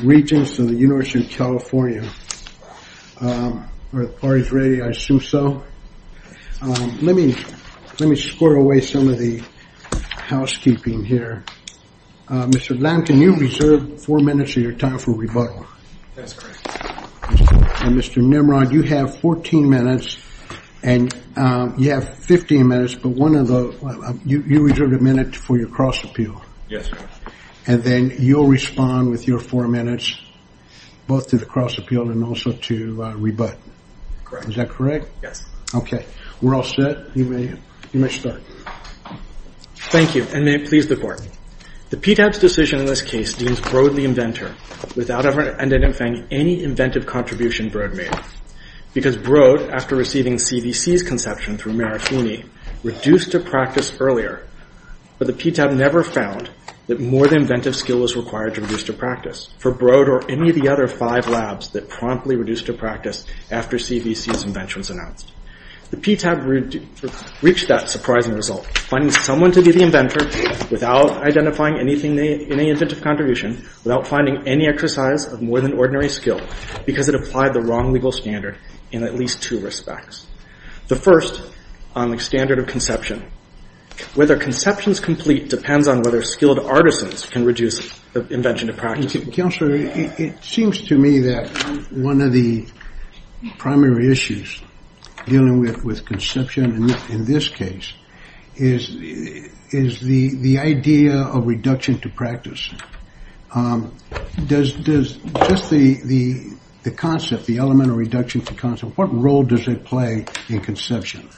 Regents of the University of California, are the parties ready? I assume so. Let me, let me score away some of the housekeeping here. Mr. Blanton, you've reserved four minutes of your time for rebuttal. That's correct. And Mr. Nimrod, you have 14 minutes, and you have 15 minutes, but one of the, you, you reserved a minute for your cross appeal. Yes, sir. And then you'll respond with your four minutes, both to the cross appeal and also to rebut. Correct. Is that correct? Yes. Okay. We're all set. You may, you may start. Thank you, and may it please the court. The PTAB's decision in this case deems Broad the inventor, without ever identifying any inventive contribution Broad made. Because Broad, after receiving CVC's conception through Mayor Fooney, reduced to practice earlier. But the PTAB never found that more than inventive skill was required to reduce to practice for Broad or any of the other five labs that promptly reduced to practice after CVC's invention was announced. The PTAB reached that surprising result, finding someone to be the inventor without identifying anything, any inventive contribution, without finding any exercise of more than ordinary skill, because it applied the wrong legal standard in at least two respects. The first, on the standard of conception. Whether conception's complete depends on whether skilled artisans can reduce the invention to practice. Counselor, it seems to me that one of the primary issues dealing with conception in this case is the idea of reduction to practice. Does just the concept, the element of reduction to concept, what role does it play in conception?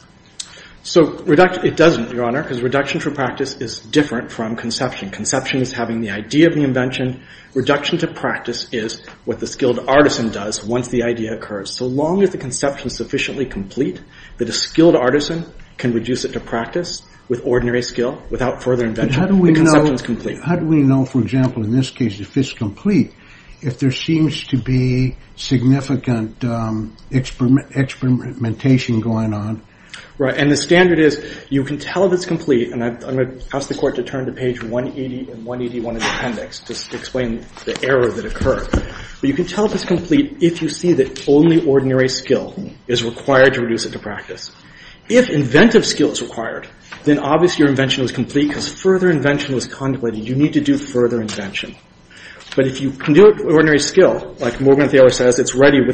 So, it doesn't, Your Honor, because reduction to practice is different from conception. Conception is having the idea of the invention. Reduction to practice is what the skilled artisan does once the idea occurs. So long as the conception's sufficiently complete, that a skilled artisan can reduce it to practice with ordinary skill, without further invention, the conception's complete. How do we know, for example, in this case, if it's complete, if there seems to be significant experimentation going on? Right, and the standard is, you can tell if it's complete, and I'm going to ask the court to turn to page 180 and 181 of the appendix to explain the error that occurred, but you can tell if it's complete if you see that only ordinary skill is required to reduce it to practice. If inventive skill is required, then obviously your invention was complete because further invention was contemplated. You need to do further invention. But if you can do it with ordinary skill, like Morgan Thaler says, it's ready for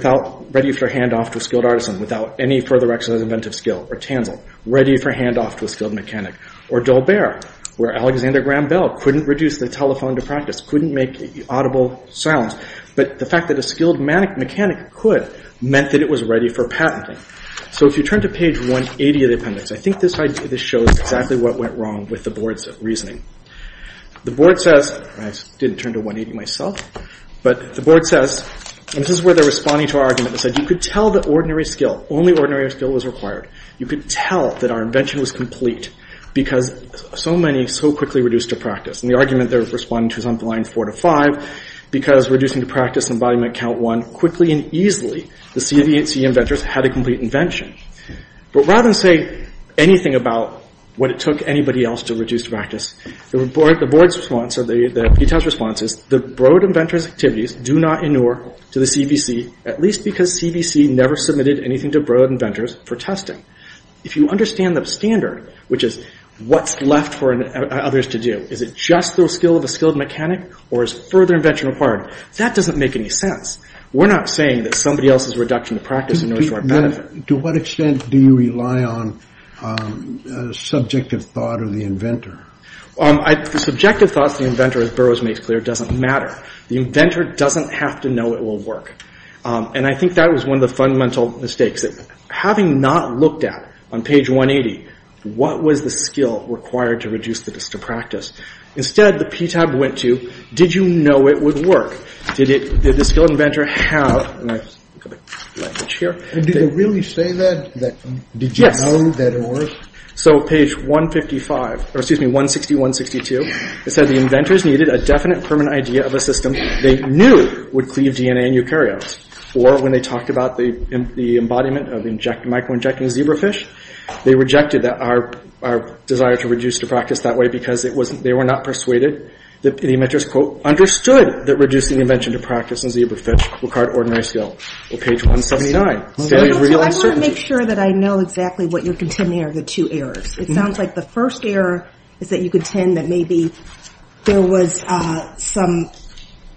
handoff to a skilled artisan without any further exercise of inventive skill, or Tanzl, ready for handoff to a skilled mechanic, or Dolbert, where Alexander Graham Bell couldn't reduce the telephone to practice, couldn't make audible sounds, but the fact that a skilled mechanic could meant that it was ready for patenting. So if you turn to page 180 of the appendix, I think this shows exactly what went wrong with the board's reasoning. The board says, and I didn't turn to 180 myself, but the board says, and this is where they're responding to our argument, they said, you could tell that ordinary skill, only ordinary skill was required. You could tell that our invention was complete because so many so quickly reduced to practice. And the argument they're responding to is on the line four to five, because reducing to practice and embodiment count one, quickly and easily, the CIDC inventors had a complete invention. But rather than say anything about what it took anybody else to reduce to practice, the board's response, or the PTAS response is, the Broad Inventors activities do not inure to the CVC, at least because CVC never submitted anything to Broad Inventors for testing. If you understand the standard, which is what's left for others to do, is it just the skill of a skilled mechanic, or is further invention required? That doesn't make any sense. We're not saying that somebody else's reduction to practice inures to our benefit. To what extent do you rely on subjective thought of the inventor? Subjective thoughts of the inventor, as Burroughs makes clear, doesn't matter. The inventor doesn't have to know it will work. And I think that was one of the fundamental mistakes. Having not looked at, on page 180, what was the skill required to reduce to practice? Instead, the PTAB went to, did you know it would work? Did the skilled inventor have, and I've got a blank page here. Did they really say that? Did you know that it worked? So page 155, or excuse me, 160, 162, it said the inventors needed a definite permanent idea of a system they knew would cleave DNA in eukaryotes. Or when they talked about the embodiment of micro-injecting zebrafish, they rejected our desire to reduce to practice that way because they were not persuaded that the inventors, quote, understood that reducing invention to practice in zebrafish required ordinary skill. Or page 179, failure to reveal uncertainty. I want to make sure that I know exactly what you're contending are the two errors. It sounds like the first error is that you contend that maybe there was some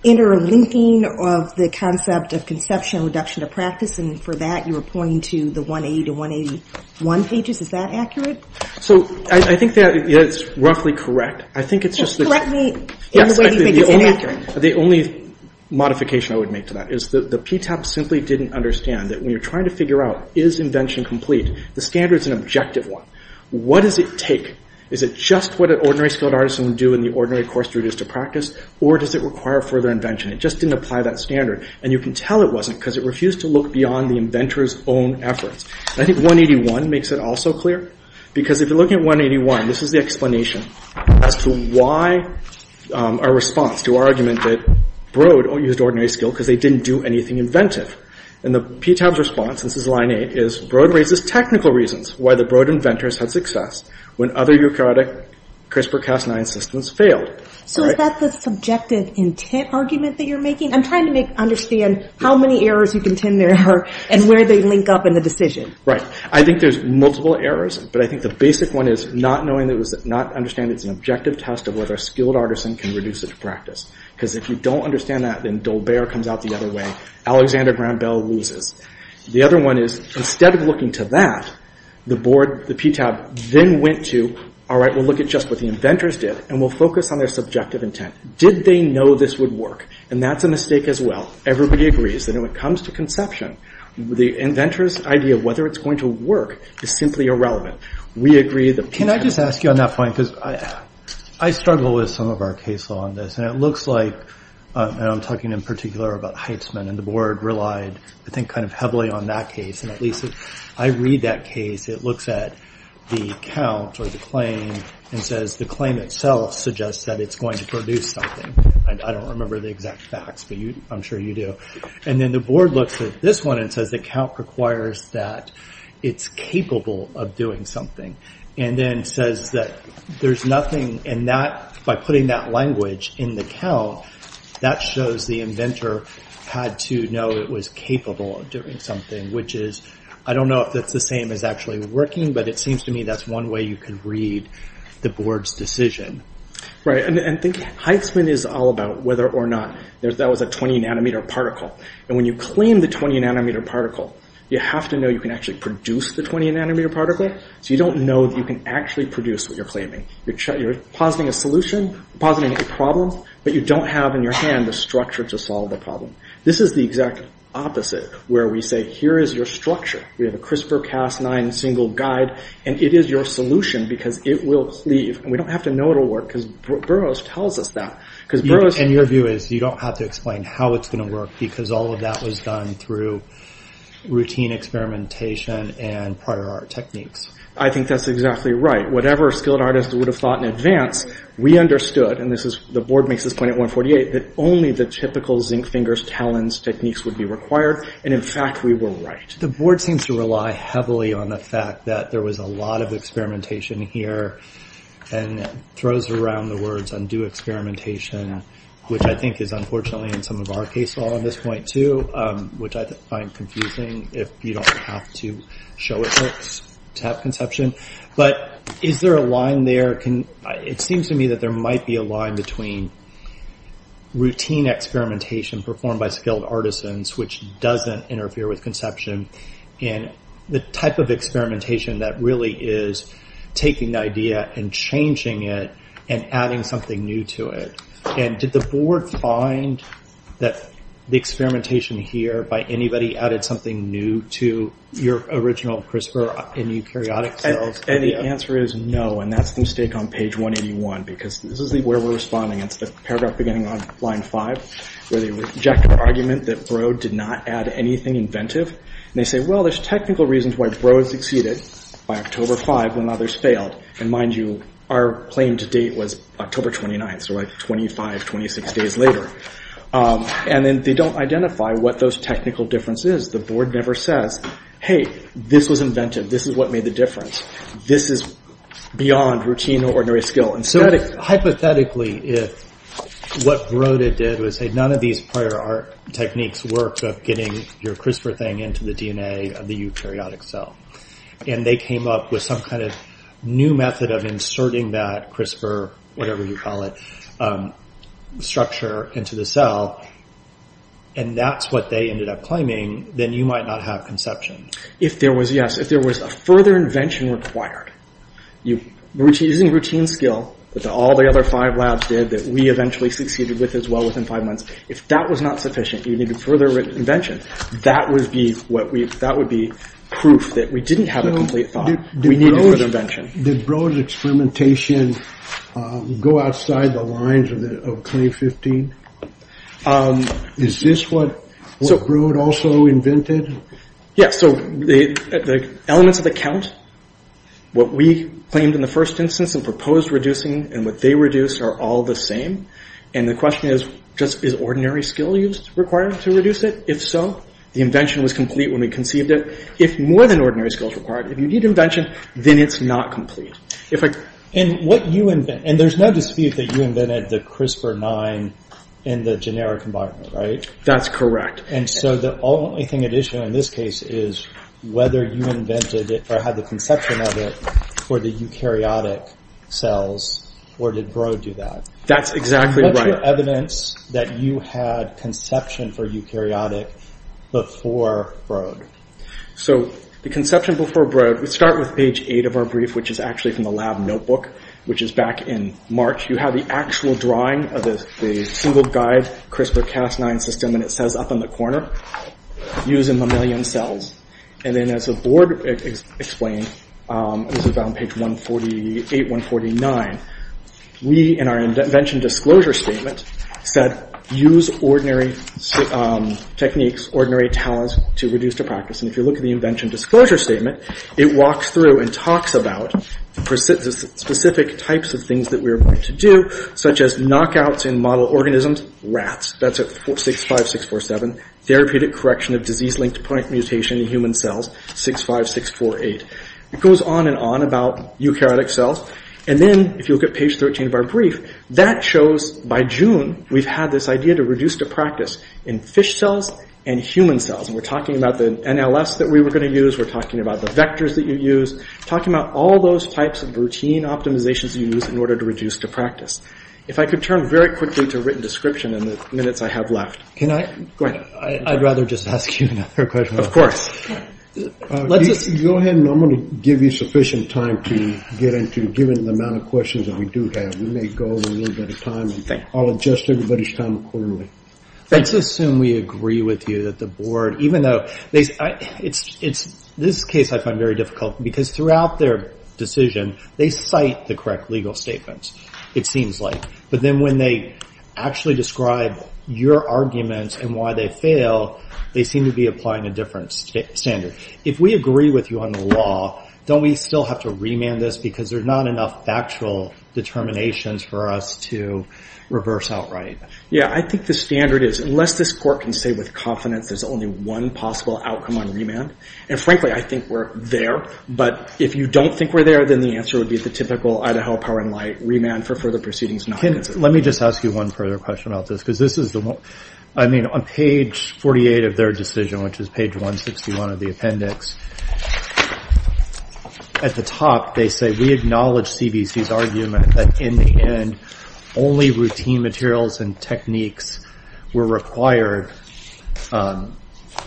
interlinking of the concept of conception reduction to practice. And for that, you were pointing to the 180 to 181 pages. Is that accurate? So I think that it's roughly correct. Just correct me in the way you think it's inaccurate. The only modification I would make to that is that the PTAP simply didn't understand that when you're trying to figure out, is invention complete, the standard's an objective one. What does it take? Is it just what an ordinary skilled artisan would do in the ordinary course to reduce to practice? Or does it require further invention? It just didn't apply that standard. And you can tell it wasn't because it refused to look beyond the inventor's own efforts. I think 181 makes it also clear. Because if you're looking at 181, this is the explanation as to why our response to our argument that Broad used ordinary skill because they didn't do anything inventive. And the PTAP's response, and this is line eight, is Broad raises technical reasons why the Broad inventors had success when other eukaryotic CRISPR-Cas9 systems failed. So is that the subjective intent argument that you're making? I'm trying to understand how many errors you contend there are and where they link up in the decision. Right. I think there's multiple errors, but I think the basic one is not knowing that it was...not understanding it's an objective test of whether a skilled artisan can reduce it to practice. Because if you don't understand that, then Dolbert comes out the other way. Alexander Graham Bell loses. The other one is, instead of looking to that, the board, the PTAP, then went to, all right, we'll look at just what the inventors did, and we'll focus on their subjective intent. Did they know this would work? And that's a mistake as well. Everybody agrees that when it comes to conception, the inventor's idea of whether it's going to work is simply irrelevant. We agree that... Can I just ask you on that point? Because I struggle with some of our case law on this. And it looks like, and I'm talking in particular about Heitzman, and the board relied, I think, kind of heavily on that case. And at least, I read that case. It looks at the count or the claim and says the claim itself suggests that it's going to produce something. I don't remember the exact facts, but I'm sure you do. And then the board looks at this one and says the count requires that it's capable of doing something. And then says that there's nothing in that... By putting that language in the count, that shows the inventor had to know it was capable of doing something, which is... I don't know if that's the same as actually working, but it seems to me that's one way you can read the board's decision. Right. And I think Heitzman is all about whether or not that was a 20-nanometer particle. And when you claim the 20-nanometer particle, you have to know you can actually produce the 20-nanometer particle. So you don't know that you can actually produce what you're claiming. You're positing a solution, positing a problem, but you don't have in your hand the structure to solve the problem. This is the exact opposite, where we say, here is your structure. We have a CRISPR-Cas9 single guide, and it is your solution because it will leave. And we don't have to know it'll work because Burroughs tells us that. Because Burroughs... And your view is you don't have to explain how it's going to work because all that was done through routine experimentation and prior art techniques. I think that's exactly right. Whatever a skilled artist would have thought in advance, we understood, and the board makes this point at 148, that only the typical zinc fingers, talons techniques would be required. And in fact, we were right. The board seems to rely heavily on the fact that there was a lot of experimentation here and throws around the words, undo experimentation, which I think is true, which I find confusing if you don't have to show it to have conception. But is there a line there? It seems to me that there might be a line between routine experimentation performed by skilled artisans, which doesn't interfere with conception, and the type of experimentation that really is taking the idea and changing it and adding something new to it. And did the board find that the experimentation here by anybody added something new to your original CRISPR in eukaryotic cells? And the answer is no, and that's the mistake on page 181, because this is where we're responding. It's the paragraph beginning on line 5, where they reject the argument that Burroughs did not add anything inventive. They say, well, there's technical reasons why Burroughs succeeded by October 5 when others failed. And mind you, our claim to date was October 29. So like 25, 26 days later. And then they don't identify what those technical differences is. The board never says, hey, this was inventive. This is what made the difference. This is beyond routine or ordinary skill. And so hypothetically, what Broda did was say none of these prior art techniques work of getting your CRISPR thing into the DNA of the eukaryotic cell. And they came up with some kind of new method of inserting that CRISPR, whatever you call it, structure into the cell. And that's what they ended up claiming. Then you might not have conception. If there was, yes, if there was a further invention required, using routine skill that all the other five labs did that we eventually succeeded with as well within five months, if that was not sufficient, you needed further invention, that would be proof that we didn't have a complete thought. We needed further invention. Did Broda's experimentation go outside the lines of CLAIM-15? Is this what Broda also invented? Yes, so the elements of the count, what we claimed in the first instance and proposed reducing and what they reduced are all the same. And the question is, just is ordinary skill used required to reduce it? If so, the invention was complete when we conceived it. If more than ordinary skill is required, if you need invention, then it's not complete. And what you invent, and there's no dispute that you invented the CRISPR-9 in the generic environment, right? That's correct. And so the only thing at issue in this case is whether you invented it or had the conception of it for the eukaryotic cells, or did Broda do that? That's exactly right. What's your evidence that you had conception for eukaryotic before Broda? So the conception before Broda, we start with page 8 of our brief, which is actually from the lab notebook, which is back in March. You have the actual drawing of the single guide CRISPR-Cas9 system, and it says up in the corner, use in mammalian cells. And then as the board explained, this is on page 148, 149, we in our invention disclosure statement said, use ordinary techniques, ordinary talents to reduce the practice. And if you look at the invention disclosure statement, it walks through and talks about specific types of things that we are going to do, such as knockouts in model organisms, rats. That's at 65647. Therapeutic correction of disease-linked point mutation in human cells, 65648. It goes on and on about eukaryotic cells. And then if you look at page 13 of our brief, that shows by June, we've had this idea to reduce the practice in fish cells and human cells. And we're talking about the NLS that we were going to use, we're talking about the vectors that you use, talking about all those types of routine optimizations you use in order to reduce the practice. If I could turn very quickly to written description in the minutes I have left. Can I? Go ahead. I'd rather just ask you another question. Of course. Let's just... Go ahead, and I'm going to give you sufficient time to get into, given the amount of questions that we do have, we may go over a little bit of time. I'll adjust everybody's time accordingly. Let's assume we agree with you that the board, even though... It's this case I find very difficult, because throughout their decision, they cite the correct legal statements, it seems like. But then when they actually describe your arguments and why they fail, they seem to be applying a different standard. If we agree with you on the law, don't we still have to remand this because there's not enough factual determinations for us to reverse outright? Yeah, I think the standard is, unless this court can say with confidence there's only one possible outcome on remand, and frankly, I think we're there. But if you don't think we're there, then the answer would be the typical Idaho power and light, remand for further proceedings not considered. Let me just ask you one further question about this, because this is the one... I mean, on page 48 of their decision, which is page 161 of the appendix, at the top they say, we acknowledge CBC's argument that in the end, only routine materials and techniques were required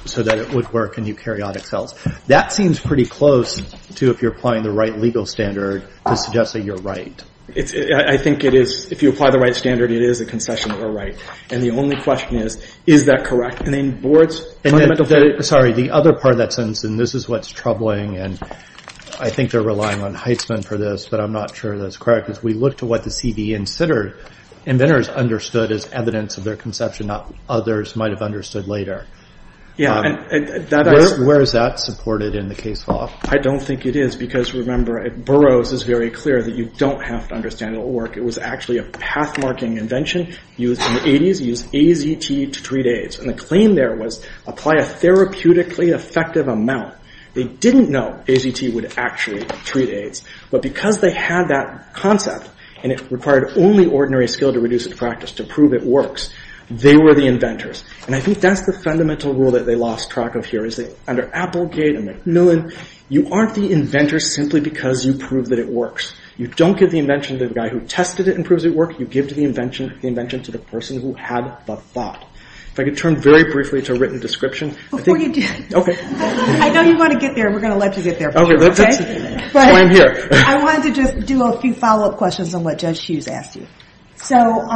so that it would work in eukaryotic cells. That seems pretty close to if you're applying the right legal standard to suggest that you're right. I think it is, if you apply the right standard, it is a concession that we're right. And the only question is, is that correct? And then the board's fundamental... Sorry, the other part of that sentence, and this is what's troubling, and I think they're relying on Heitzman for this, but I'm not sure that's correct, is we look to what the CBE and Sitter inventors understood as evidence of their conception, not others might have understood later. Yeah, and that... Where is that supported in the case law? I don't think it is, because remember, Burroughs is very clear that you don't have to understand it'll work. It was actually a path-marking invention used in the 80s, used AZT to treat AIDS. And the claim there was, apply a therapeutically effective amount. They didn't know AZT would actually treat AIDS. But because they had that concept, and it required only ordinary skill to reduce it to practice, to prove it works, they were the inventors. And I think that's the fundamental rule that they lost track of here, is that under Applegate and McMillan, you aren't the inventor simply because you prove that it works. You don't give the invention to the guy who tested it and proves it works, you give the invention to the person who had the thought. If I could turn very briefly to written description... Before you do... Okay. I know you want to get there, we're going to let you get there. Okay, that's why I'm here. I wanted to just do a few follow-up questions on what Judge Hughes asked you. So,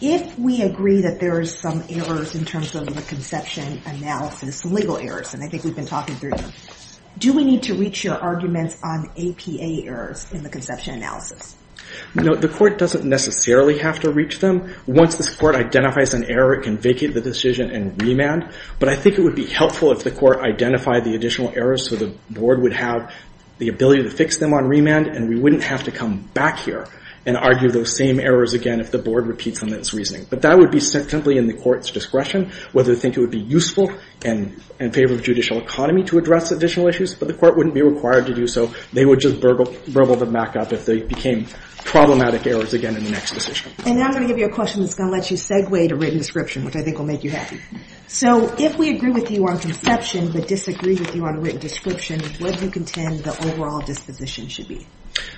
if we agree that there's some errors in terms of the conception analysis, legal errors, and I think we've been talking through them, do we need to reach your arguments on APA errors in the conception analysis? No, the court doesn't necessarily have to reach them. Once this court identifies an error, it can vacate the decision and remand. But I think it would be helpful if the court identified the additional errors so the board would have the ability to fix them on remand, and we wouldn't have to come back here and argue those same errors again if the board repeats them in its reasoning. But that would be simply in the court's discretion, whether they think it would be useful and in favor of judicial economy to address additional issues, but the court wouldn't be required to do so. They would just burgle them back up if they became problematic errors again in the next decision. And now I'm going to give you a question that's going to let you segue to written description, which I think will make you happy. So, if we agree with you on conception but disagree with you on written description, what do you contend the overall disposition should be?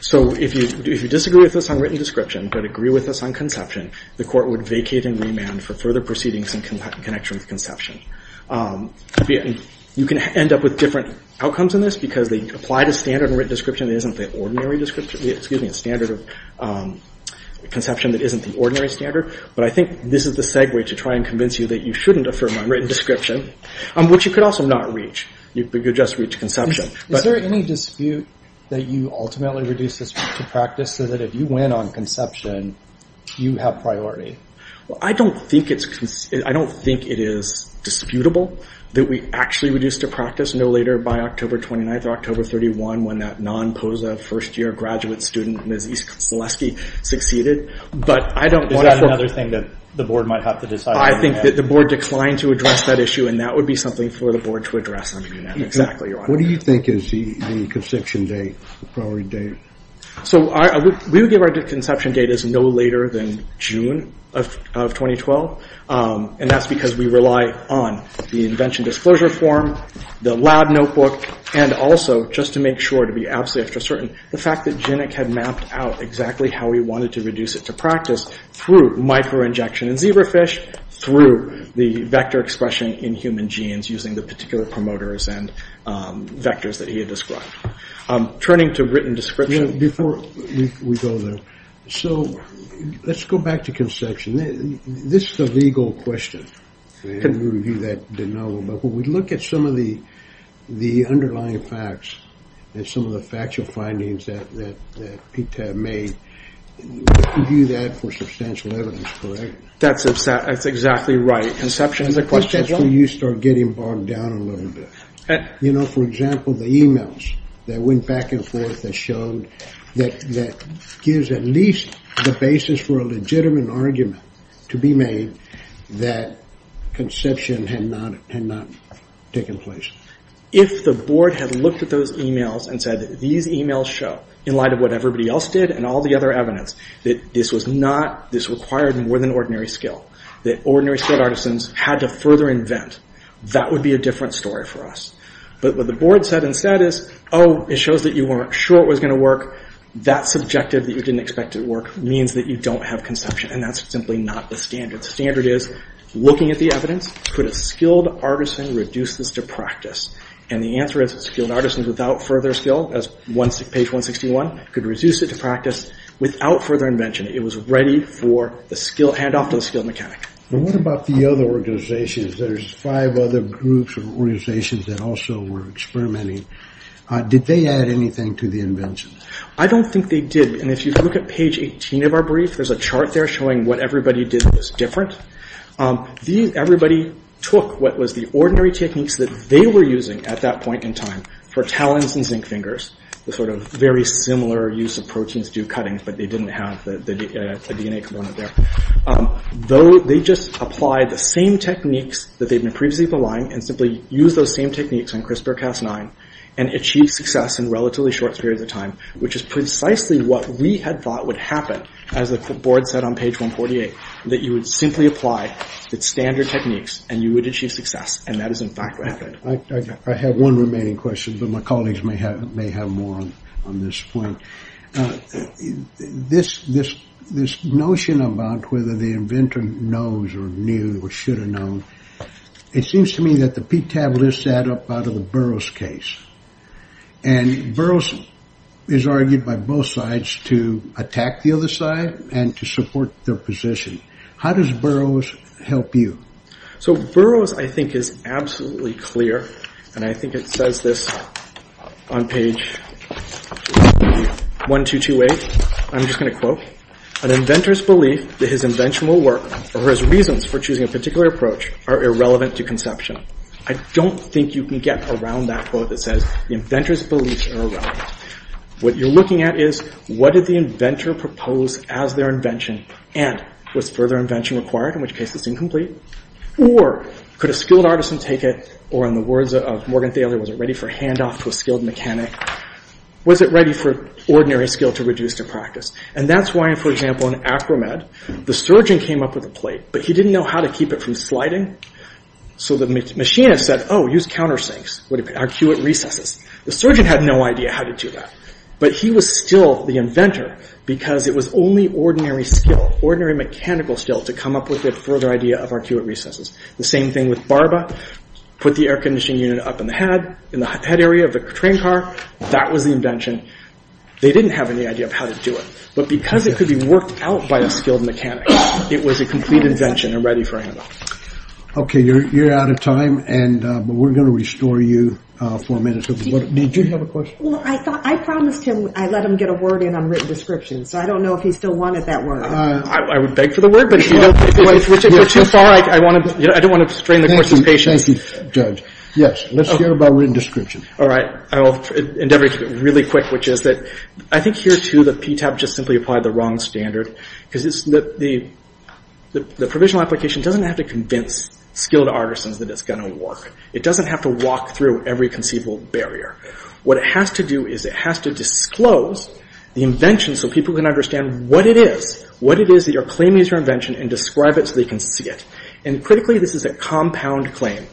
So, if you disagree with us on written description but agree with us on conception, the court would vacate and remand for further proceedings in connection with conception. You can end up with different outcomes in this because they apply the standard of written description that isn't the standard of conception that isn't the ordinary standard. But I think this is the segue to try and convince you that you shouldn't affirm on written description, which you could also not reach. You could just reach conception. Is there any dispute that you ultimately reduce this to practice so that if you win on conception, you have priority? Well, I don't think it is disputable that we actually reduce to practice no later by October 29th or October 31 when that non-POSA first-year graduate student, Ms. Seleski, succeeded. But I don't want to... Is that another thing that the board might have to decide? I think that the board declined to address that issue and that would be something for the board to address. I mean, exactly, Your Honor. What do you think is the conception date, the priority date? So, we would give our conception date as no later than June of 2012. And that's because we rely on the invention disclosure form, the lab notebook, and also, just to make sure, to be absolutely after certain, the fact that Jinek had mapped out exactly how he wanted to reduce it to practice through micro-injection in zebrafish, through the vector expression in human genes using the particular promoters and vectors that he had described. Turning to written description... Before we go there, so let's go back to conception. This is a legal question. And we'll review that de novo. But when we look at some of the underlying facts and some of the factual findings that PTAB made, we can view that for substantial evidence, correct? That's exactly right. Conception is a question. I think that's where you start getting bogged down a little bit. You know, for example, the emails that went back and forth that showed that gives at least the basis for a legitimate argument to be made that conception had not taken place. If the board had looked at those emails and said, these emails show, in light of what everybody else did and all the other evidence, that this was not, this required more than ordinary skill, that ordinary skilled artisans had to further invent, that would be a different story for us. But what the board said instead is, oh, it shows that you weren't sure it was going to work, that subjective that you didn't expect it to work means that you don't have conception, and that's simply not the standard. The standard is, looking at the evidence, could a skilled artisan reduce this to practice? And the answer is skilled artisans without further skill, as page 161, could reduce it to practice without further invention. It was ready for the skill, handoff to the skilled mechanic. And what about the other organizations? There's five other groups or organizations that also were experimenting. Did they add anything to the invention? I don't think they did. And if you look at page 18 of our brief, there's a chart there showing what everybody did that was different. Everybody took what was the ordinary techniques that they were using at that point in time, for talons and zinc fingers, the sort of very similar use of proteins to do cuttings, but they didn't have the DNA component there. They just applied the same techniques that they'd been previously applying, and simply used those same techniques on CRISPR-Cas9, and achieved success in relatively short periods of time, which is precisely what we had thought would happen as the board said on page 148, that you would simply apply the standard techniques, and you would achieve success. And that is, in fact, what happened. I have one remaining question, but my colleagues may have more on this point. This notion about whether the inventor knows, or knew, or should have known, it seems to me that the PTAB lists add up out of the Burroughs case. And Burroughs is argued by both sides to attack the other side, and to support their position. How does Burroughs help you? So Burroughs, I think, is absolutely clear, and I think it says this on page 1228. I'm just going to quote. An inventor's belief that his invention will work, or his reasons for choosing a particular approach, are irrelevant to conception. I don't think you can get around that quote that says the inventor's beliefs are irrelevant. What you're looking at is, what did the inventor propose as their invention, and was further invention required, in which case it's incomplete? Or, could a skilled artisan take it, or in the words of Morgan Thaler, was it ready for handoff to a skilled mechanic? Was it ready for ordinary skill to reduce to practice? And that's why, for example, in acromed, the surgeon came up with a plate, but he didn't know how to keep it from sliding. So the machinist said, oh, use countersinks. Arcuate recesses. The surgeon had no idea how to do that. But he was still the inventor, because it was only ordinary skill, ordinary mechanical skill, to come up with the further idea of arcuate recesses. The same thing with Barba. Put the air conditioning unit up in the head, in the head area of the train car. That was the invention. They didn't have any idea of how to do it. But because it could be worked out by a skilled mechanic, it was a complete invention and ready for handoff. Okay, you're out of time, but we're going to restore you for a minute. Did you have a question? I promised him I'd let him get a word in on written description, so I don't know if he still wanted that word. I would beg for the word, but if you're too far, I don't want to strain the course of his patience. Thank you, Judge. Yes, let's hear about written description. All right, I'll endeavor to keep it really quick, which is that I think here, too, the PTAP just simply applied the wrong standard, because the provisional application doesn't have to convince skilled artisans that it's going to work. It doesn't have to walk through every conceivable barrier. What it has to do is it has to disclose the invention so people can understand what it is, what it is that you're claiming is your invention and describe it so they can see it. And critically, this is a compound claim.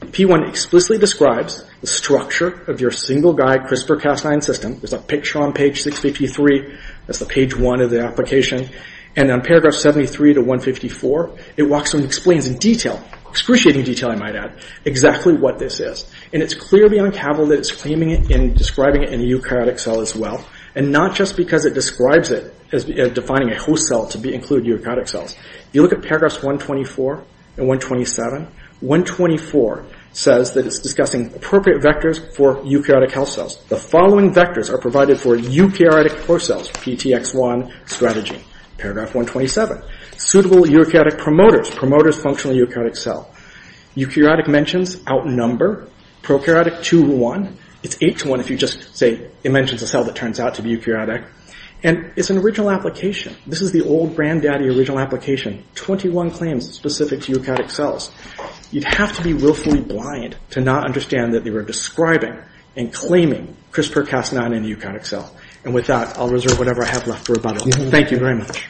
P1 explicitly describes the structure of your single-guy CRISPR-Cas9 system. There's a picture on page 653. That's the page 1 of the application. And on paragraph 73 to 154, it walks through and explains in detail, I might add, exactly what this is. And it's clear beyond capital that it's claiming it and describing it in a eukaryotic cell as well, and not just because it describes it as defining a host cell to include eukaryotic cells. If you look at paragraphs 124 and 127, 124 says that it's discussing appropriate vectors for eukaryotic health cells. The following vectors are provided for eukaryotic host cells, PTX1 strategy. Paragraph 127, suitable eukaryotic promoters, functional eukaryotic cell. Eukaryotic mentions outnumber prokaryotic 2 to 1. It's 8 to 1 if you just say it mentions a cell that turns out to be eukaryotic. And it's an original application. This is the old granddaddy original application. 21 claims specific to eukaryotic cells. You'd have to be willfully blind to not understand that they were describing and claiming CRISPR-Cas9 in a eukaryotic cell. And with that, I'll reserve whatever I have left for rebuttal. Thank you very much.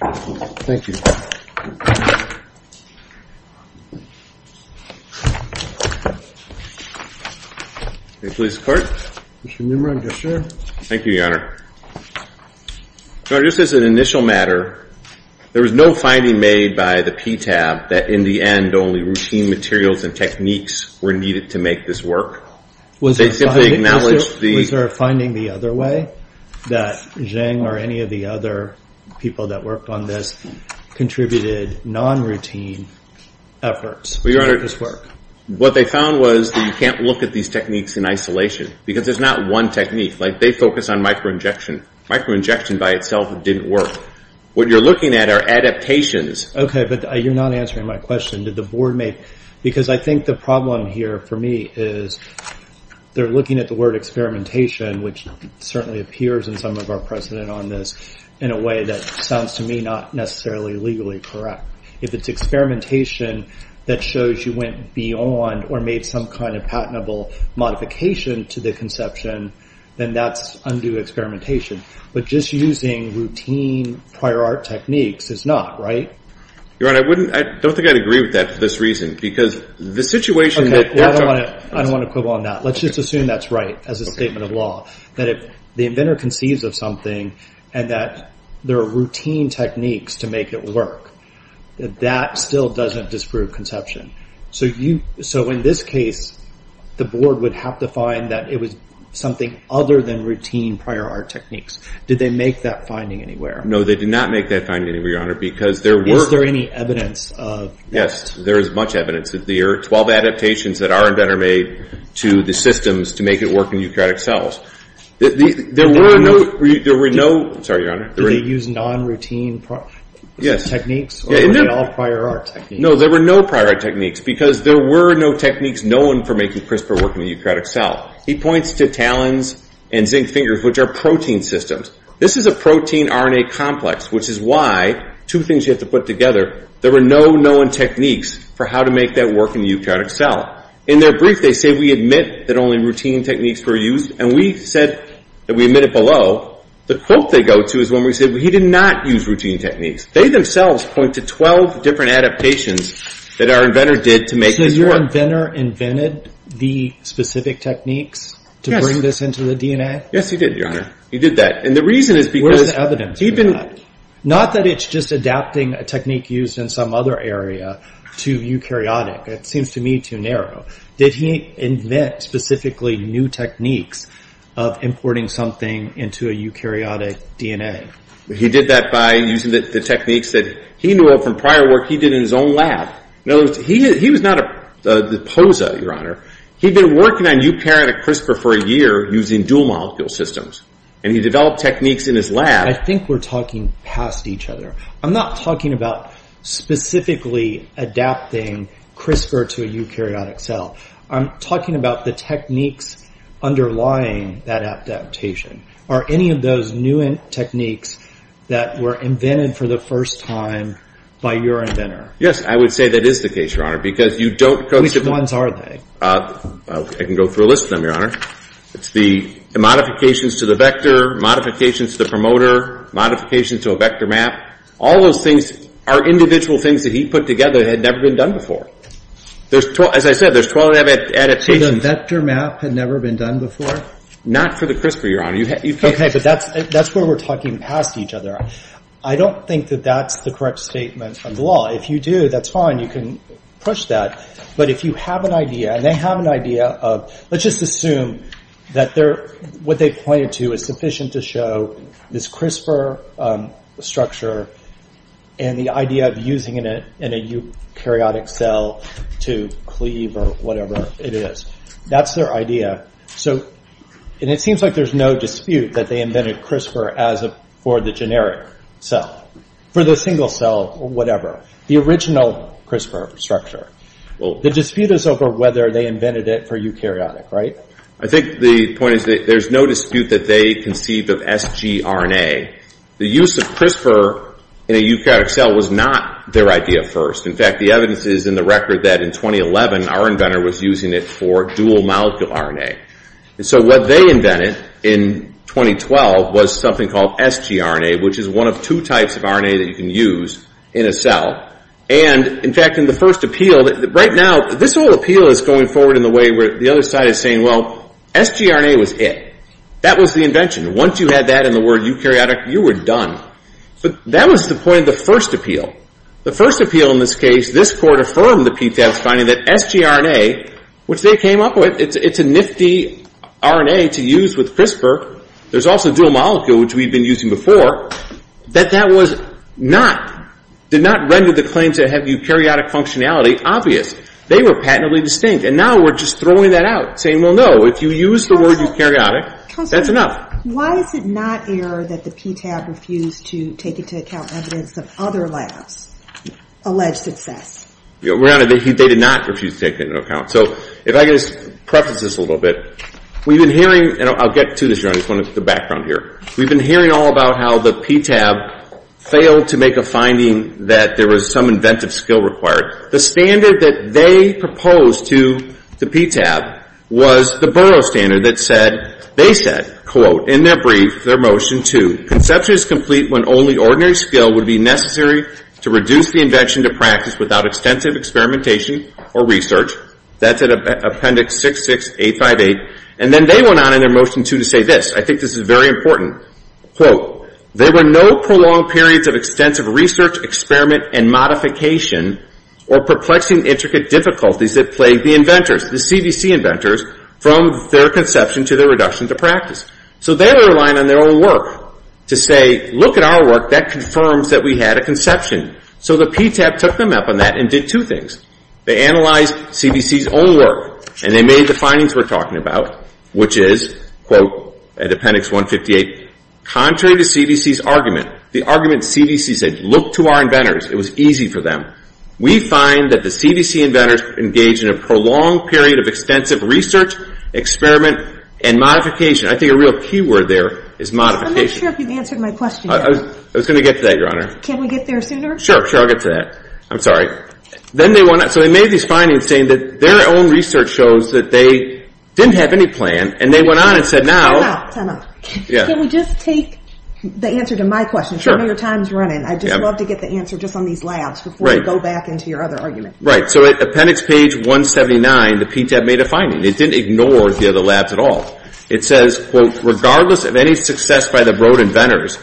Please, clerk. Mr. Nimrod, yes sir. Thank you, your honor. So just as an initial matter, there was no finding made by the PTAB that in the end, only routine materials and techniques were needed to make this work. Was there a finding the other way? That Zheng or any of the other people that worked on this contributed non-routine to the PTAB efforts to make this work? What they found was that you can't look at these techniques in isolation. Because there's not one technique. They focus on microinjection. Microinjection by itself didn't work. What you're looking at are adaptations. Okay, but you're not answering my question. Because I think the problem here for me is they're looking at the word experimentation which certainly appears in some of our precedent on this in a way that sounds to me not necessarily legally correct. If it's experimentation that shows you went beyond or made some kind of patentable modification to the conception then that's undue experimentation. But just using routine prior art techniques is not, right? Your honor, I don't think I'd agree with that for this reason. I don't want to quibble on that. Let's just assume that's right as a statement of law. That if the inventor conceives of something and that there are routine techniques to make it work that still doesn't disprove conception. So in this case the board would have to find that it was something other than routine prior art techniques. Did they make that finding anywhere? No, they did not make that finding anywhere, your honor. Is there any evidence of this? Yes, there is much evidence. There are 12 adaptations that our inventor made to the systems to make it work in eukaryotic cells. There were no... Techniques? No, there were no prior art techniques because there were no techniques known for making CRISPR work in the eukaryotic cell. He points to talons and zinc fingers which are protein systems. This is a protein RNA complex which is why, two things you have to put together there were no known techniques for how to make that work in the eukaryotic cell. In their brief they say we admit that only routine techniques were used and we said that we admit it below. The quote they go to is when we say he did not use routine techniques. They themselves point to 12 different adaptations that our inventor did to make this work. So your inventor invented the specific techniques to bring this into the DNA? Yes, he did, your honor. Where's the evidence for that? Not that it's just adapting a technique used in some other area to eukaryotic. It seems to me too narrow. Did he invent specifically new techniques of importing something into a eukaryotic DNA? He did that by using the techniques that he knew of from prior work he did in his own lab. He was not a poser, your honor. He'd been working on eukaryotic CRISPR for a year using dual molecule systems and he developed techniques in his lab. I think we're talking past each other. I'm not talking about specifically adapting CRISPR to a eukaryotic cell. I'm talking about the techniques underlying that adaptation. Are any of those new techniques that were invented for the first time by your inventor? Yes, I would say that is the case, your honor. Which ones are they? I can go through a list of them, your honor. It's the modifications to the vector, modifications to the promoter, modifications to a vector map. All those things are individual things that he put together that had never been done before. As I said, there's 12 adaptations. So the vector map had never been done before? Not for the CRISPR, your honor. That's where we're talking past each other. I don't think that that's the correct statement of the law. If you do, that's fine, you can push that. But if you have an idea, and they have an idea of, let's just assume that what they pointed to is sufficient to show this CRISPR structure and the idea of using it in a eukaryotic cell to cleave or whatever it is. That's their idea. It seems like there's no dispute that they invented CRISPR for the generic cell. For the single cell or whatever. The original CRISPR structure. The dispute is over whether they invented it for eukaryotic, right? I think the point is that there's no dispute that they conceived of sgRNA. The use of CRISPR in a eukaryotic cell was not their idea first. In fact, the evidence is in the record that in 2011 our inventor was using it for dual molecule RNA. So what they invented in 2012 was something called sgRNA which is one of two types of RNA that you can use in a cell. In fact, in the first appeal right now, this whole appeal is going forward in the way where the other side is saying sgRNA was it. That was the invention. Once you had that in the word eukaryotic, you were done. That was the point of the first appeal. The first appeal in this case, this court affirmed the PTAB's finding that sgRNA which they came up with it's a nifty RNA to use with CRISPR there's also dual molecule which we've been using before that that was not did not render the claim to have eukaryotic functionality obvious. They were patently distinct. Now we're just throwing that out saying, well no, if you use the word eukaryotic that's enough. Why is it not error that the PTAB refused to take into account evidence of other labs alleged success? Your Honor, they did not refuse to take it into account. So if I could just preface this a little bit we've been hearing and I'll get to this, Your Honor, just wanted to get the background here we've been hearing all about how the PTAB failed to make a finding that there was some inventive skill required. The standard that they proposed to the PTAB was the borough standard that said, they said quote, in their brief, their motion two conception is complete when only ordinary skill would be necessary to reduce the invention to practice without extensive experimentation or research. That's in appendix 66858 and then they went on in their motion two to say this, I think this is very important quote, there were no prolonged periods of extensive research experiment and modification or perplexing intricate difficulties that plagued the inventors, the CVC inventors, from their conception to their reduction to practice. So they were relying on their own work to say, look at our work, that confirms that we had a conception. So the PTAB took them up on that and did two things they analyzed CVC's own work and they made the findings we're talking about, which is quote, appendix 158 contrary to CVC's argument the argument CVC said, look to our inventors, it was easy for them we find that the CVC inventors engaged in a prolonged period of extensive research, experiment and modification. I think a real key word there is modification. I'm not sure if you answered my question. I was going to get to that Your Honor. Can we get there sooner? Sure, I'll get to that. I'm sorry. So they made these findings saying that their own research shows that they didn't have any plan and they went on and said time out, time out. Can we just take the answer to my question I know your time is running, I'd just love to get the answer just on these labs before we go back into your other argument. Right, so at appendix page 179 the PTAB made a finding, it didn't ignore the other labs at all it says, quote, regardless of any success by the Broad inventors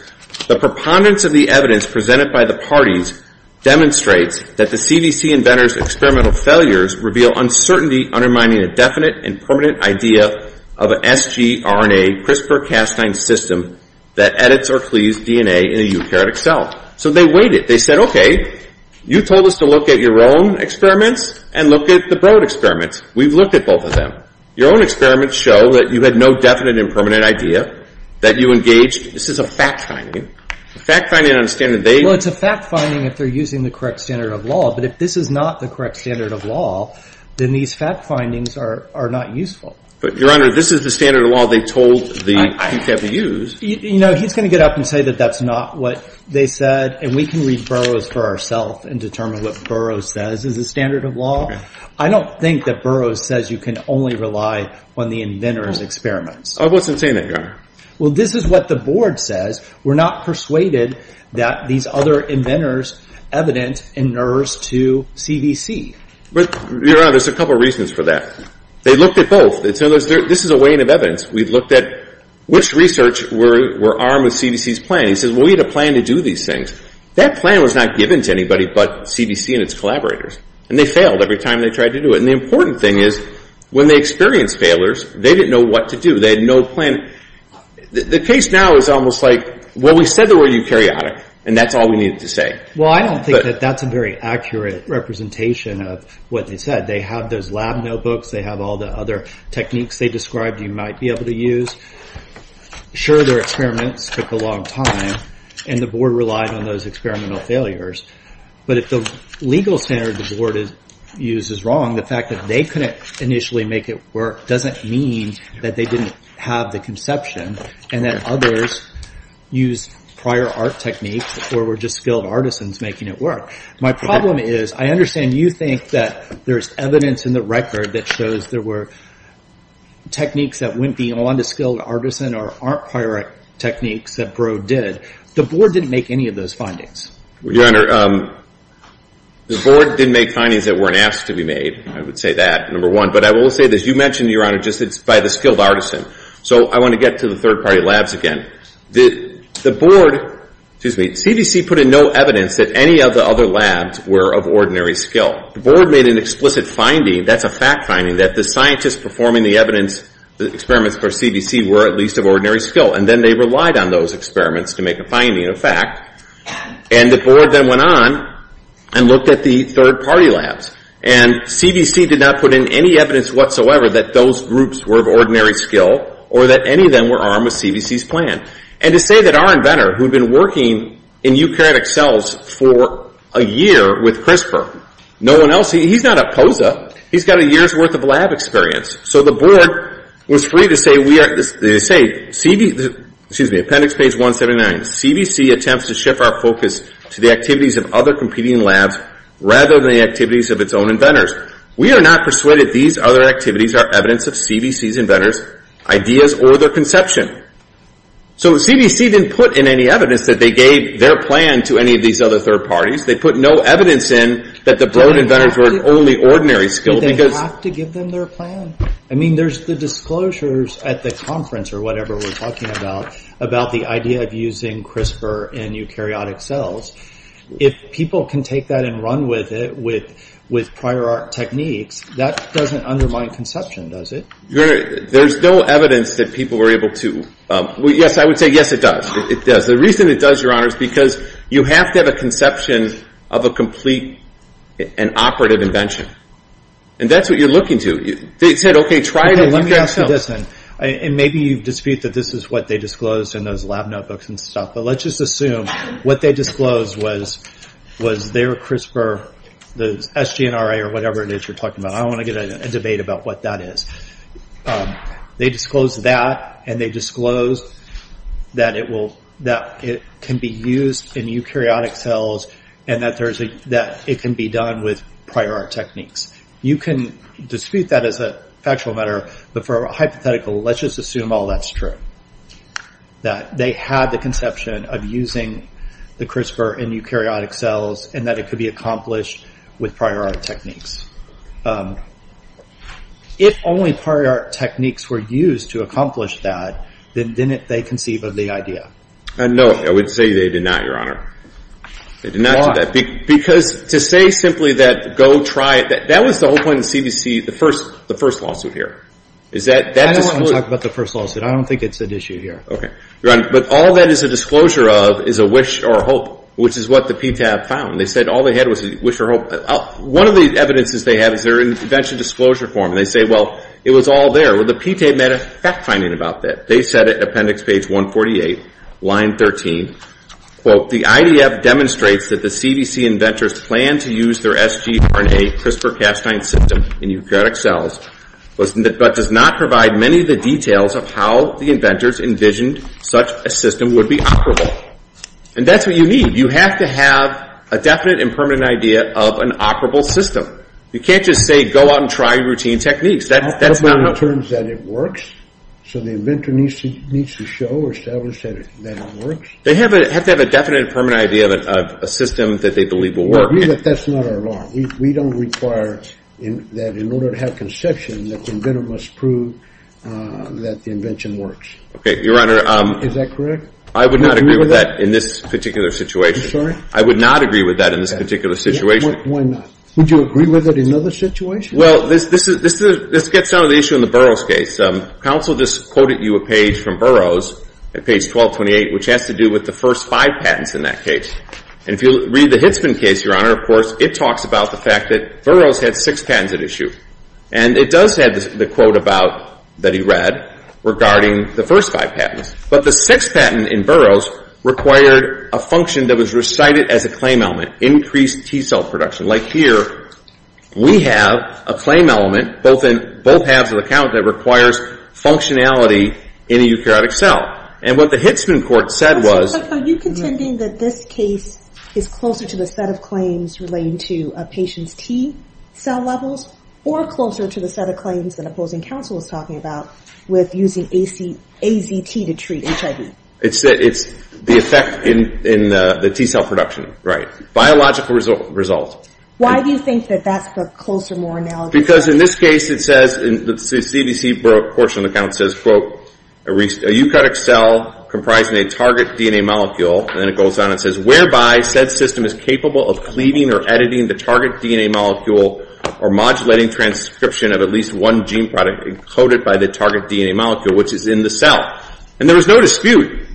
the preponderance of the evidence presented by the parties demonstrates that the CVC inventors experimental failures reveal uncertainty undermining a definite and permanent idea of an sgRNA CRISPR-Cas9 system that edits or cleaves DNA in a eukaryotic cell. So they waited, they said, okay you told us to look at your own experiments and look at the Broad experiments, we've looked at both of them your own experiments show that you had no definite and permanent idea that you engaged, this is a fact finding a fact finding on a standard, they Well it's a fact finding if they're using the correct standard of law but if this is not the correct standard of law then these fact findings are not useful. But Your Honor this is the standard of law they told the PTAB to use. You know, he's going to get up and say that that's not what they said and we can read Burroughs for ourselves and determine what Burroughs says is the standard of law. I don't think that Burroughs says you can only rely on the inventors' experiments. I wasn't saying that, Your Honor. Well this is what the board says, we're not persuaded that these other inventors evidence inures to CDC. Your Honor, there's a couple reasons for that they looked at both, this is a wane of evidence, we've looked at which research were armed with CDC's plan. He says, well we had a plan to do these things that plan was not given to anybody but CDC and its collaborators and they failed every time they tried to do it and the important thing is, when they experienced failures, they didn't know what to do they had no plan. The case now is almost like, well we said they were eukaryotic and that's all we needed to say. Well I don't think that that's a very accurate representation of what they said. They have those lab notebooks they have all the other techniques they described you might be able to use sure their experiments took a long time and the board relied on those experimental failures but if the legal standard the board used is wrong the fact that they couldn't initially make it work doesn't mean that they didn't have the conception and that others used prior art techniques or were just skilled artisans making it work. My problem is, I understand you think that there's evidence in the record that shows there were techniques that went beyond a skilled artisan or aren't prior art techniques that Broad did. The board didn't make any of those findings. Your Honor, the board didn't make findings that weren't asked to be made I would say that, number one, but I will say this you mentioned, Your Honor, just by the skilled artisan so I want to get to the third party labs again. The board excuse me, CDC put in no evidence that any of the other labs were of ordinary skill. The board made an explicit finding, that's a fact finding, that the scientists performing the evidence the experiments for CDC were at least of ordinary skill and then they relied on those experiments to make a finding, a fact and the board then went on and looked at the third party labs and CDC did not put in any evidence whatsoever that those groups were of ordinary skill or that any of them were armed with CDC's plan. And to say that our inventor who'd been working in eukaryotic cells for a year with CRISPR, no one else he's not a POSA, he's got a year's worth of lab experience. So the board was free to say excuse me, appendix page 179, CDC attempts to shift our focus to the activities of other competing labs rather than the activities of its own inventors. We are not persuaded these other activities are evidence of CDC's inventors' ideas or their conception. So CDC didn't put in any evidence that they gave their plan to any of these other third parties. They put no evidence in that the board inventors were of only ordinary skill because... But they have to give them their plan. I mean there's the disclosures at the conference or whatever we're talking about, about the idea of using CRISPR in eukaryotic cells. If people can take that and run with it with prior art techniques, that doesn't undermine conception, does it? There's no evidence that people were able to... Yes, I would say yes it does. The reason it does, Your Honor, is because you have to have a conception of a complete and operative invention. And that's what you're looking to. They said, okay, try to... Let me ask you this then. Maybe you dispute that this is what they disclosed in those lab notebooks and stuff, but let's just assume what they disclosed was their CRISPR, the SGNRA or whatever it is you're talking about. I don't want to get into a debate about what that is. They disclosed that and they disclosed that it can be used in eukaryotic cells and that it can be done with prior art techniques. I don't take that as a factual matter, but for a hypothetical, let's just assume all that's true. That they had the conception of using the CRISPR in eukaryotic cells and that it could be accomplished with prior art techniques. If only prior art techniques were used to accomplish that, then didn't they conceive of the idea? No, I would say they did not, Your Honor. Why? Because to say simply that go try it, that was the whole point of the CBC, the first lawsuit here. I don't want to talk about the first lawsuit. I don't think it's an issue here. Okay. Your Honor, but all that is a disclosure of is a wish or a hope, which is what the PTAB found. They said all they had was a wish or a hope. One of the evidences they have is their invention disclosure form. They say, well, it was all there. Well, the PTAB made a fact finding about that. They said it in appendix page 148, line 13, quote, the IDF demonstrates that the CBC inventors planned to use their SGRNA CRISPR-Cas9 system in eukaryotic cells, but does not provide many of the details of how the inventors envisioned such a system would be operable. And that's what you need. You have to have a definite and permanent idea of an operable system. You can't just say go out and try routine techniques. That's not how it works. So the inventor needs to show or establish that it works? They have to have a definite and permanent idea of a system that they believe will work. We agree that that's not our law. We don't require that in order to have conception, the inventor must prove that the invention works. Okay. Your Honor. Is that correct? I would not agree with that in this particular situation. I'm sorry? I would not agree with that in this particular situation. Why not? Would you agree with it in another situation? Well, this gets down to the issue in the Burroughs case. Counsel just quoted you a page from Burroughs, page 1228, which has to do with the first five patents in that case. And if you read the Hitzman case, Your Honor, of course, it talks about the fact that Burroughs had six patents at issue. And it does have the quote about, that he read, regarding the first five patents. But the sixth patent in Burroughs required a function that was recited as a claim element, increased T-cell production. Like here, we have a claim element both halves of the count that requires functionality in a eukaryotic cell. And what the Hitzman court said was... Are you contending that this case is closer to the set of claims relating to a patient's T-cell levels, or closer to the set of claims that opposing counsel is talking about with using AZT to treat HIV? It's the effect in the T-cell production, right. Biological result. Why do you think that that's the closer, more analogous... Because in this case, it says, the CDC portion of the count says, quote, a eukaryotic cell comprising a target DNA molecule, and it goes on and says, whereby said system is capable of cleaving or editing the target DNA molecule or modulating transcription of at least one gene product encoded by the target DNA molecule, which is in the cell. And there was no dispute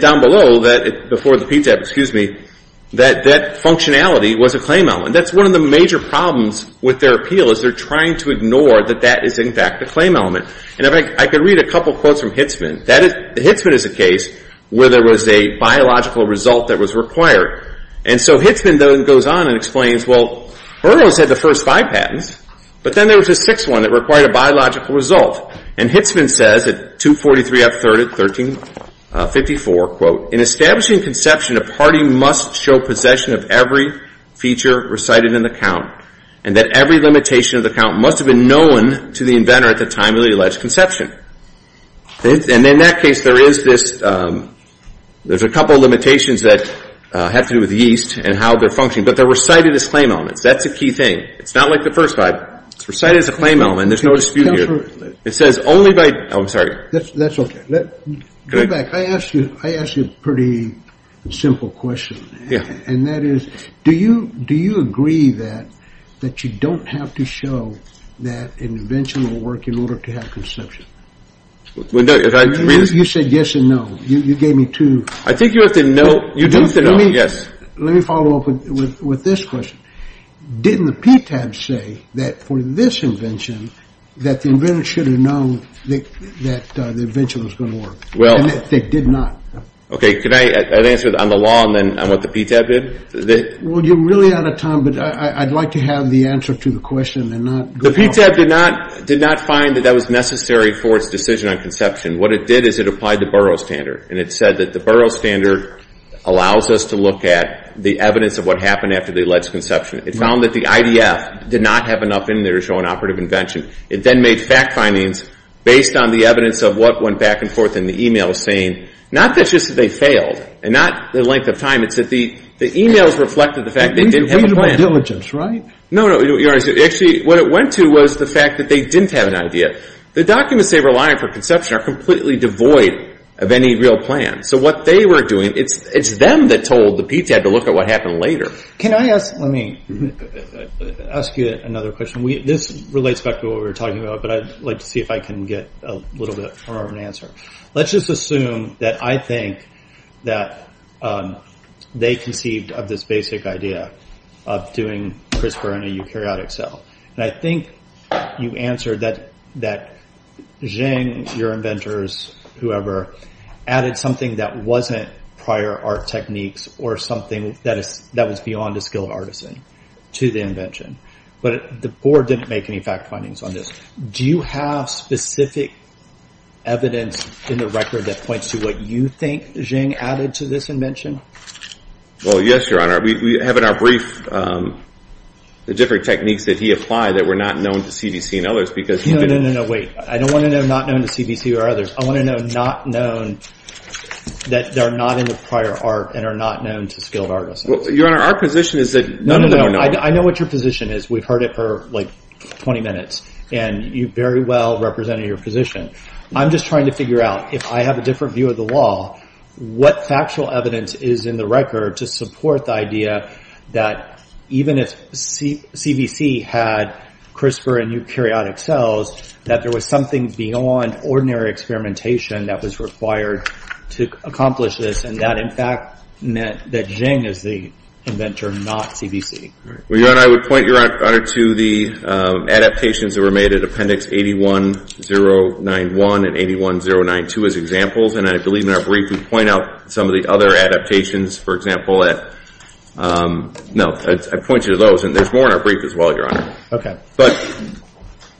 down below that, before the PTAP, excuse me, that that functionality was a claim element. That's one of the major problems with their patent is, in fact, a claim element. I could read a couple quotes from Hitzman. Hitzman is a case where there was a biological result that was required. And so Hitzman then goes on and explains, well, Erdogan said the first five patents, but then there was a sixth one that required a biological result. And Hitzman says at 243 F. 1354, quote, in establishing conception, a party must show possession of every feature recited in the count, and that every limitation of the count must have been known to the inventor at the time of the alleged conception. And in that case, there is this, there's a couple limitations that have to do with yeast and how they're functioning. But they're recited as claim elements. That's a key thing. It's not like the first five. It's recited as a claim element. There's no dispute here. It says only by, oh, I'm sorry. That's okay. Go back. I asked you a pretty simple question. And that is, do you agree that you don't have to show that an invention will work in order to have conception? You said yes and no. You gave me two. I think you have to know. You do have to know. Let me follow up with this question. Didn't the PTAB say that for this invention that the inventor should have known that the invention was going to work? And they did not. Okay. Can I answer on the law and then on what the PTAB did? Well, you're really out of time, but I'd like to have the answer to the question. The PTAB did not find that that was necessary for its decision on conception. What it did is it applied the Burroughs Standard. And it said that the Burroughs Standard allows us to look at the evidence of what happened after the alleged conception. It found that the IDF did not have enough in there to show an operative invention. It then made fact findings based on the evidence of what went back and forth in the e-mails saying not just that they failed and not the length of time, it's that the e-mails reflected the fact that they didn't have a plan. No, no, you're right. Actually, what it went to was the fact that they didn't have an idea. The documents they relied for conception are completely devoid of any real plan. So what they were doing, it's them that told the PTAB to look at what happened later. Let me ask you another question. This relates back to what we were talking about, but I'd like to see if I can get a little bit more of an answer. Let's just assume that I they conceived of this basic idea of doing CRISPR in a eukaryotic cell. I think you answered that Zheng, your inventors, whoever, added something that wasn't prior art techniques or something that was beyond the skill of artisan to the invention. But the board didn't make any fact findings on this. Do you have specific evidence in the record that points to what you think Zheng added to this invention? Well, yes, Your Honor. We have in our brief the different techniques that he applied that were not known to CDC and others. No, no, no, wait. I don't want to know not known to CDC or others. I want to know not known that they're not in the prior art and are not known to skilled artisans. Your Honor, our position is that none of them are known. No, no, no. I know what your position is. And you very well represented your position. I'm just trying to figure out, if I have a different view of the law, what factual evidence is in the record to support the idea that even if CDC had CRISPR and eukaryotic cells that there was something beyond ordinary experimentation that was required to accomplish this and that in fact meant that Zheng is the inventor, not CDC. Your Honor, I would point your Honor to the adaptations that were made at Appendix 81091 and 81092 as examples and I believe in our brief we point out some of the other adaptations, for example, at um, no, I point you to those and there's more in our brief as well, Your Honor. Okay. But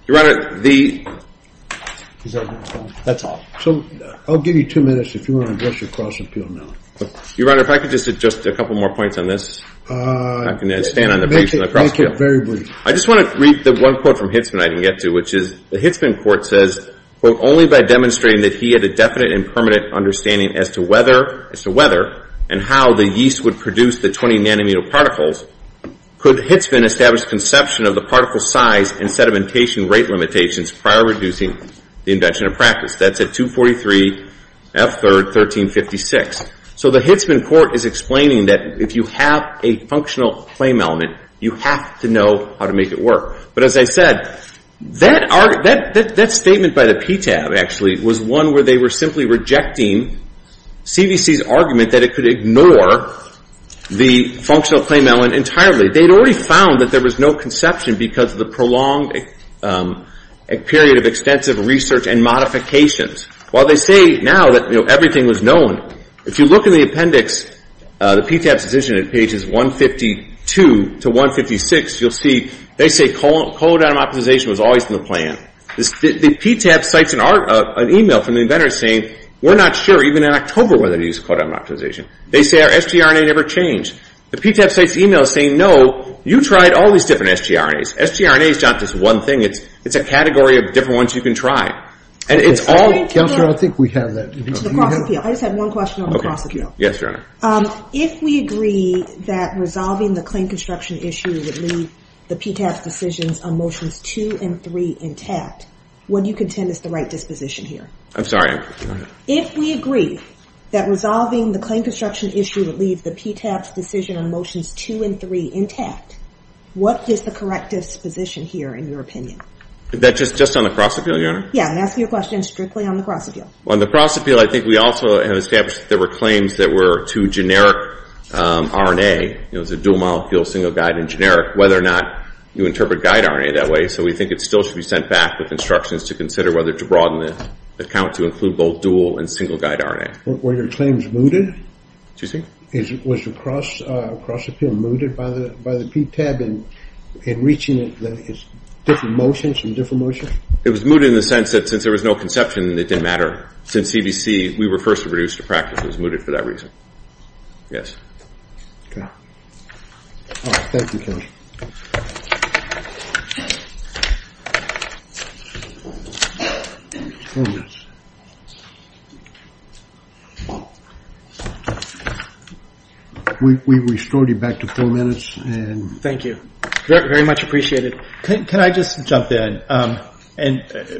Your Honor, the Is that all? That's all. I'll give you two minutes if you want to address your cross appeal now. Your Honor, if I could just add just a couple more points on this. Uh, make it very brief. I just want to read the one quote from Hitzman I didn't get to, which is the Hitzman court says, quote, only by demonstrating that he had a definite and permanent understanding as to whether, as to whether, and how the yeast would produce the 20 nanometer particles could Hitzman establish conception of the particle size and sedimentation rate limitations prior to reducing the invention of practice. That's at 243 F3rd 1356. So the Hitzman court is explaining that if you have a functional claim element, you have to know how to make it work. But as I said, that argument, that statement by the PTAB actually was one where they were simply rejecting CVC's argument that it could ignore the functional claim element entirely. They had already found that there was no conception because of the prolonged period of extensive research and modifications. While they say now that everything was known, if you look in the appendix, the PTAB's decision at pages 152 to 156, you'll see they say code atom optimization was always in the plan. The PTAB cites an email from the inventor saying we're not sure, even in October, whether to use code atom optimization. They say our sgRNA never changed. The PTAB cites the email saying no, you tried all these different sgRNAs. sgRNA is not just one thing, it's a category of different ones you can try. I think we have that. I just have one question on the cross appeal. If we agree that resolving the claim construction issue would leave the PTAB's decisions on motions 2 and 3 intact, would you contend it's the right disposition here? I'm sorry. If we agree that resolving the claim construction issue would leave the PTAB's decision on motions 2 and 3 intact, what is the correct disposition here, in your opinion? Just on the cross appeal, Your Honor? Yeah, I'm asking you a question strictly on the cross appeal. On the cross appeal, I think we also have established that there were claims that were to generic RNA, it was a dual-molecule, single-guide and generic, whether or not you interpret guide RNA that way, so we think it still should be sent back with instructions to consider whether to broaden the count to include both dual and single-guide RNA. Were your claims mooted? Excuse me? Was the cross appeal mooted by the PTAB in reaching different motions and different motions? It was mooted in the sense that since there was no conception, it didn't matter. Since CBC, we were the first to produce the practice, it was mooted for that reason. Yes. Okay. Thank you, Judge. We restored you back to four minutes. Thank you. Very much appreciated. Can I just jump in?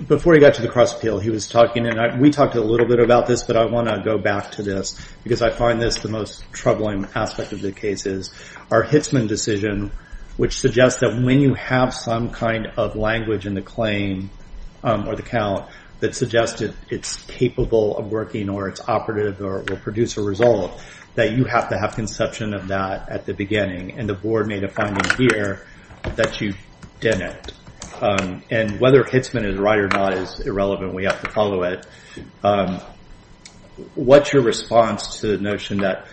Before we got to the cross appeal, he was talking and we talked a little bit about this, but I want to go back to this because I find this the most troubling aspect of the cases. Our Hitzman decision, which suggests that when you have some kind of language in the claim or the count that suggested it's capable of working or it's operative or it will produce a result, that you have to have conception of that at the beginning and the board made a finding here that you didn't. Whether Hitzman is right or not is irrelevant. We have to follow it. What's your response to the notion that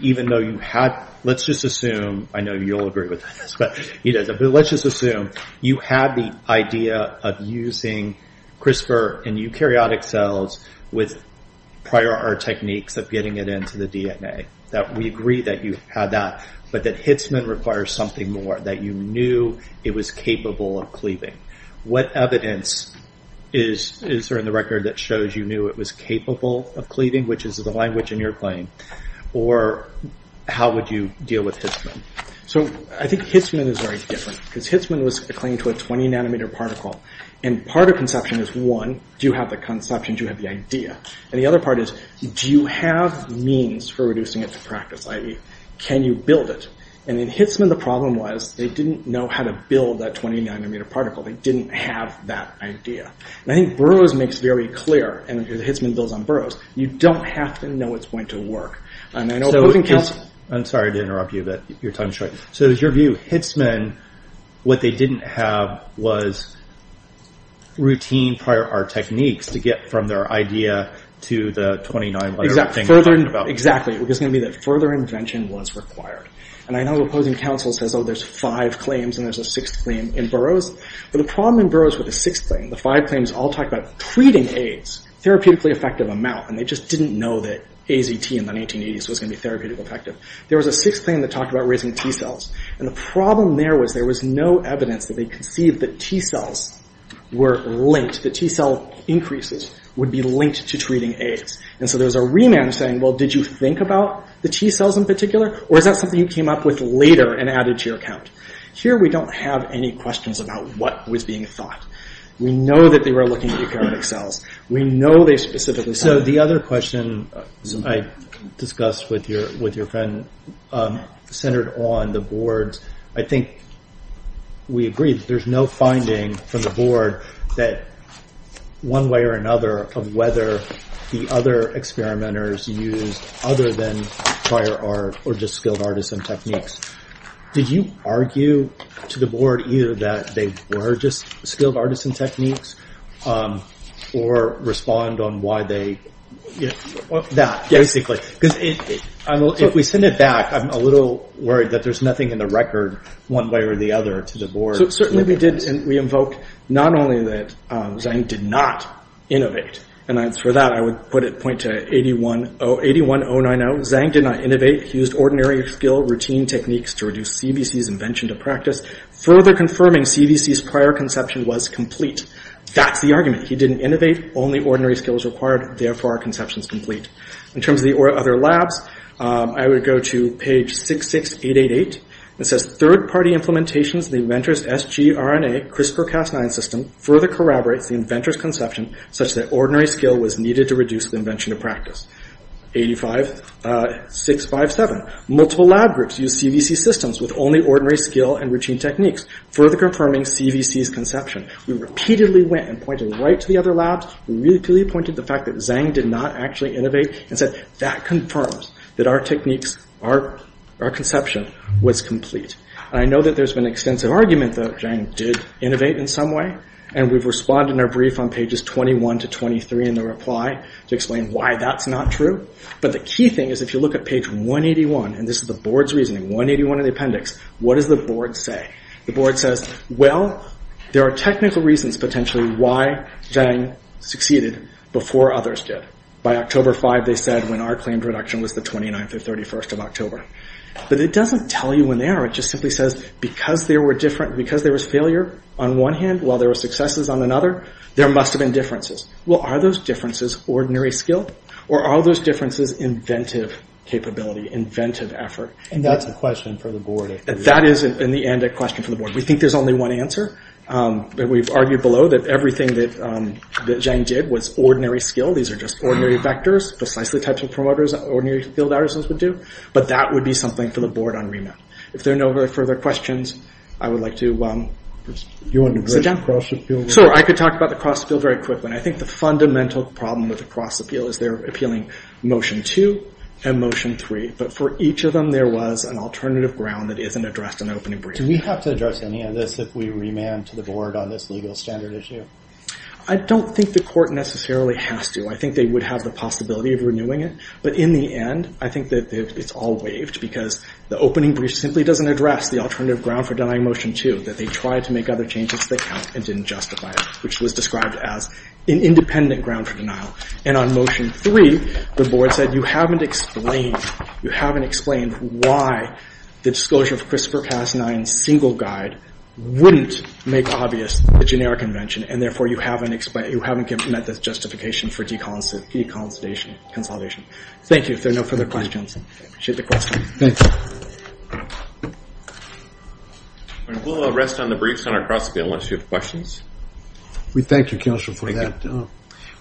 even though you had let's just assume, I know you'll agree with this, but let's just assume you had the idea of using CRISPR and eukaryotic cells with prior art techniques of getting it into the DNA. We agree that you had that, but that Hitzman requires something more, that you knew it was capable of cleaving. What evidence is there in the record that shows you knew it was capable of cleaving, which is the language in your claim? Or how would you deal with Hitzman? I think Hitzman is very different. Hitzman was a claim to a 20 nanometer particle. Part of conception is one, do you have the conception, do you have the idea? The other part is, do you have means for reducing it to practice? Can you build it? In Hitzman, the problem was they didn't know how to build that 20 nanometer particle. They didn't have that idea. I think Burroughs makes very clear, and Hitzman builds on Burroughs, you don't have to know it's going to work. I'm sorry to interrupt you, but your time is short. So is your view, Hitzman, what they didn't have was routine prior art techniques to get from their idea to the 20 nanometer thing you're talking about? Exactly. Further invention was required. I know opposing counsel says, there's five claims and there's a sixth claim in Burroughs, but the problem in Burroughs with the sixth claim, the five claims all talk about treating AIDS, therapeutically effective amount, and they just didn't know that AZT in the 1980s was going to be therapeutically effective. There was a sixth claim that talked about raising T-cells. The problem there was there was no evidence that they conceived that T-cells were linked. The T-cell increases would be linked to treating AIDS. There was a remand saying, did you think about the T-cells in particular, or is that something you came up with later and added to your account? Here we don't have any questions about what was being thought. We know that they were looking at eukaryotic cells. We know they specifically So the other question I discussed with your friend centered on the boards. I think we agree that there's no finding from the board that one way or another of whether the other experimenters used other than prior art or just skilled artisan techniques. Did you argue to the board either that they were just skilled artisan techniques or respond on why they did that, basically? If we send it back, I'm a little worried that there's nothing in the record one way or the other to the board Certainly we did, and we invoked not only that Zain did not innovate, and for that I would point to 81090 Zain did not innovate. He used ordinary skill routine techniques to reduce CBC's invention to practice further confirming CBC's prior conception was complete. That's the argument. He didn't innovate. Only ordinary skill was required. Therefore our conception is complete. In terms of the other labs I would go to page 66888. It says Third-party implementations of the inventor's sgRNA CRISPR-Cas9 system further corroborates the inventor's conception such that ordinary skill was needed to reduce the invention to practice. 85657 Multiple lab groups used CBC systems with only ordinary skill and routine techniques further confirming CBC's conception. We repeatedly went and pointed right to the other labs. We repeatedly pointed to the fact that Zain did not actually innovate and said that confirms that our techniques, our conception was complete. I know that there's been extensive argument that Zain did innovate in some way and we've responded in our brief on pages 21 to 23 in the reply to explain why that's not true. But the key thing is if you look at page 181, and this is the board's reasoning, 181 in the appendix, what does the board say? The board says, well there are technical reasons potentially why Zain succeeded before others did. By October 5 they said when our claimed reduction was the 29th or 31st of October. But it doesn't tell you when they are. It just simply says because there was failure on one hand while there were successes on another, there must have been differences. Well are those differences ordinary skill or are those differences inventive capability, inventive effort? And that's a question for the board. That is in the end a question for the board. We think there's only one answer. We've argued below that everything that Zain did was ordinary skill. These are just ordinary vectors, precisely the types of promoters ordinary field artisans would do. But that would be something for the board on remit. If there are no further questions, I would like to sit down. Sir, I could talk about the cross appeal very quickly. I think the fundamental problem with the cross appeal is they're appealing Motion 2 and Motion 3. But for each of them there was an alternative ground that isn't addressed in the opening brief. Do we have to address any of this if we remand to the board on this legal standard issue? I don't think the court necessarily has to. I think they would have the possibility of renewing it. But in the end, I think that it's all waived because the opening brief simply doesn't address the alternative ground for denying Motion 2, that they tried to make other changes to the count and didn't justify it, which was described as an independent ground for denial. And on Motion 3, the board said you haven't explained why the disclosure of CRISPR-Cas9 single guide wouldn't make obvious the generic invention, and therefore you haven't met the justification for deconsolidation. Thank you. If there are no further questions, I appreciate the question. Thank you. We'll rest on the briefs on our cross-bill once you have questions. We thank you, counsel, for that.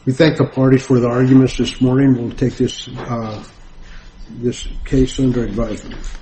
We thank the party for the arguments this morning. We'll take this case under advisement.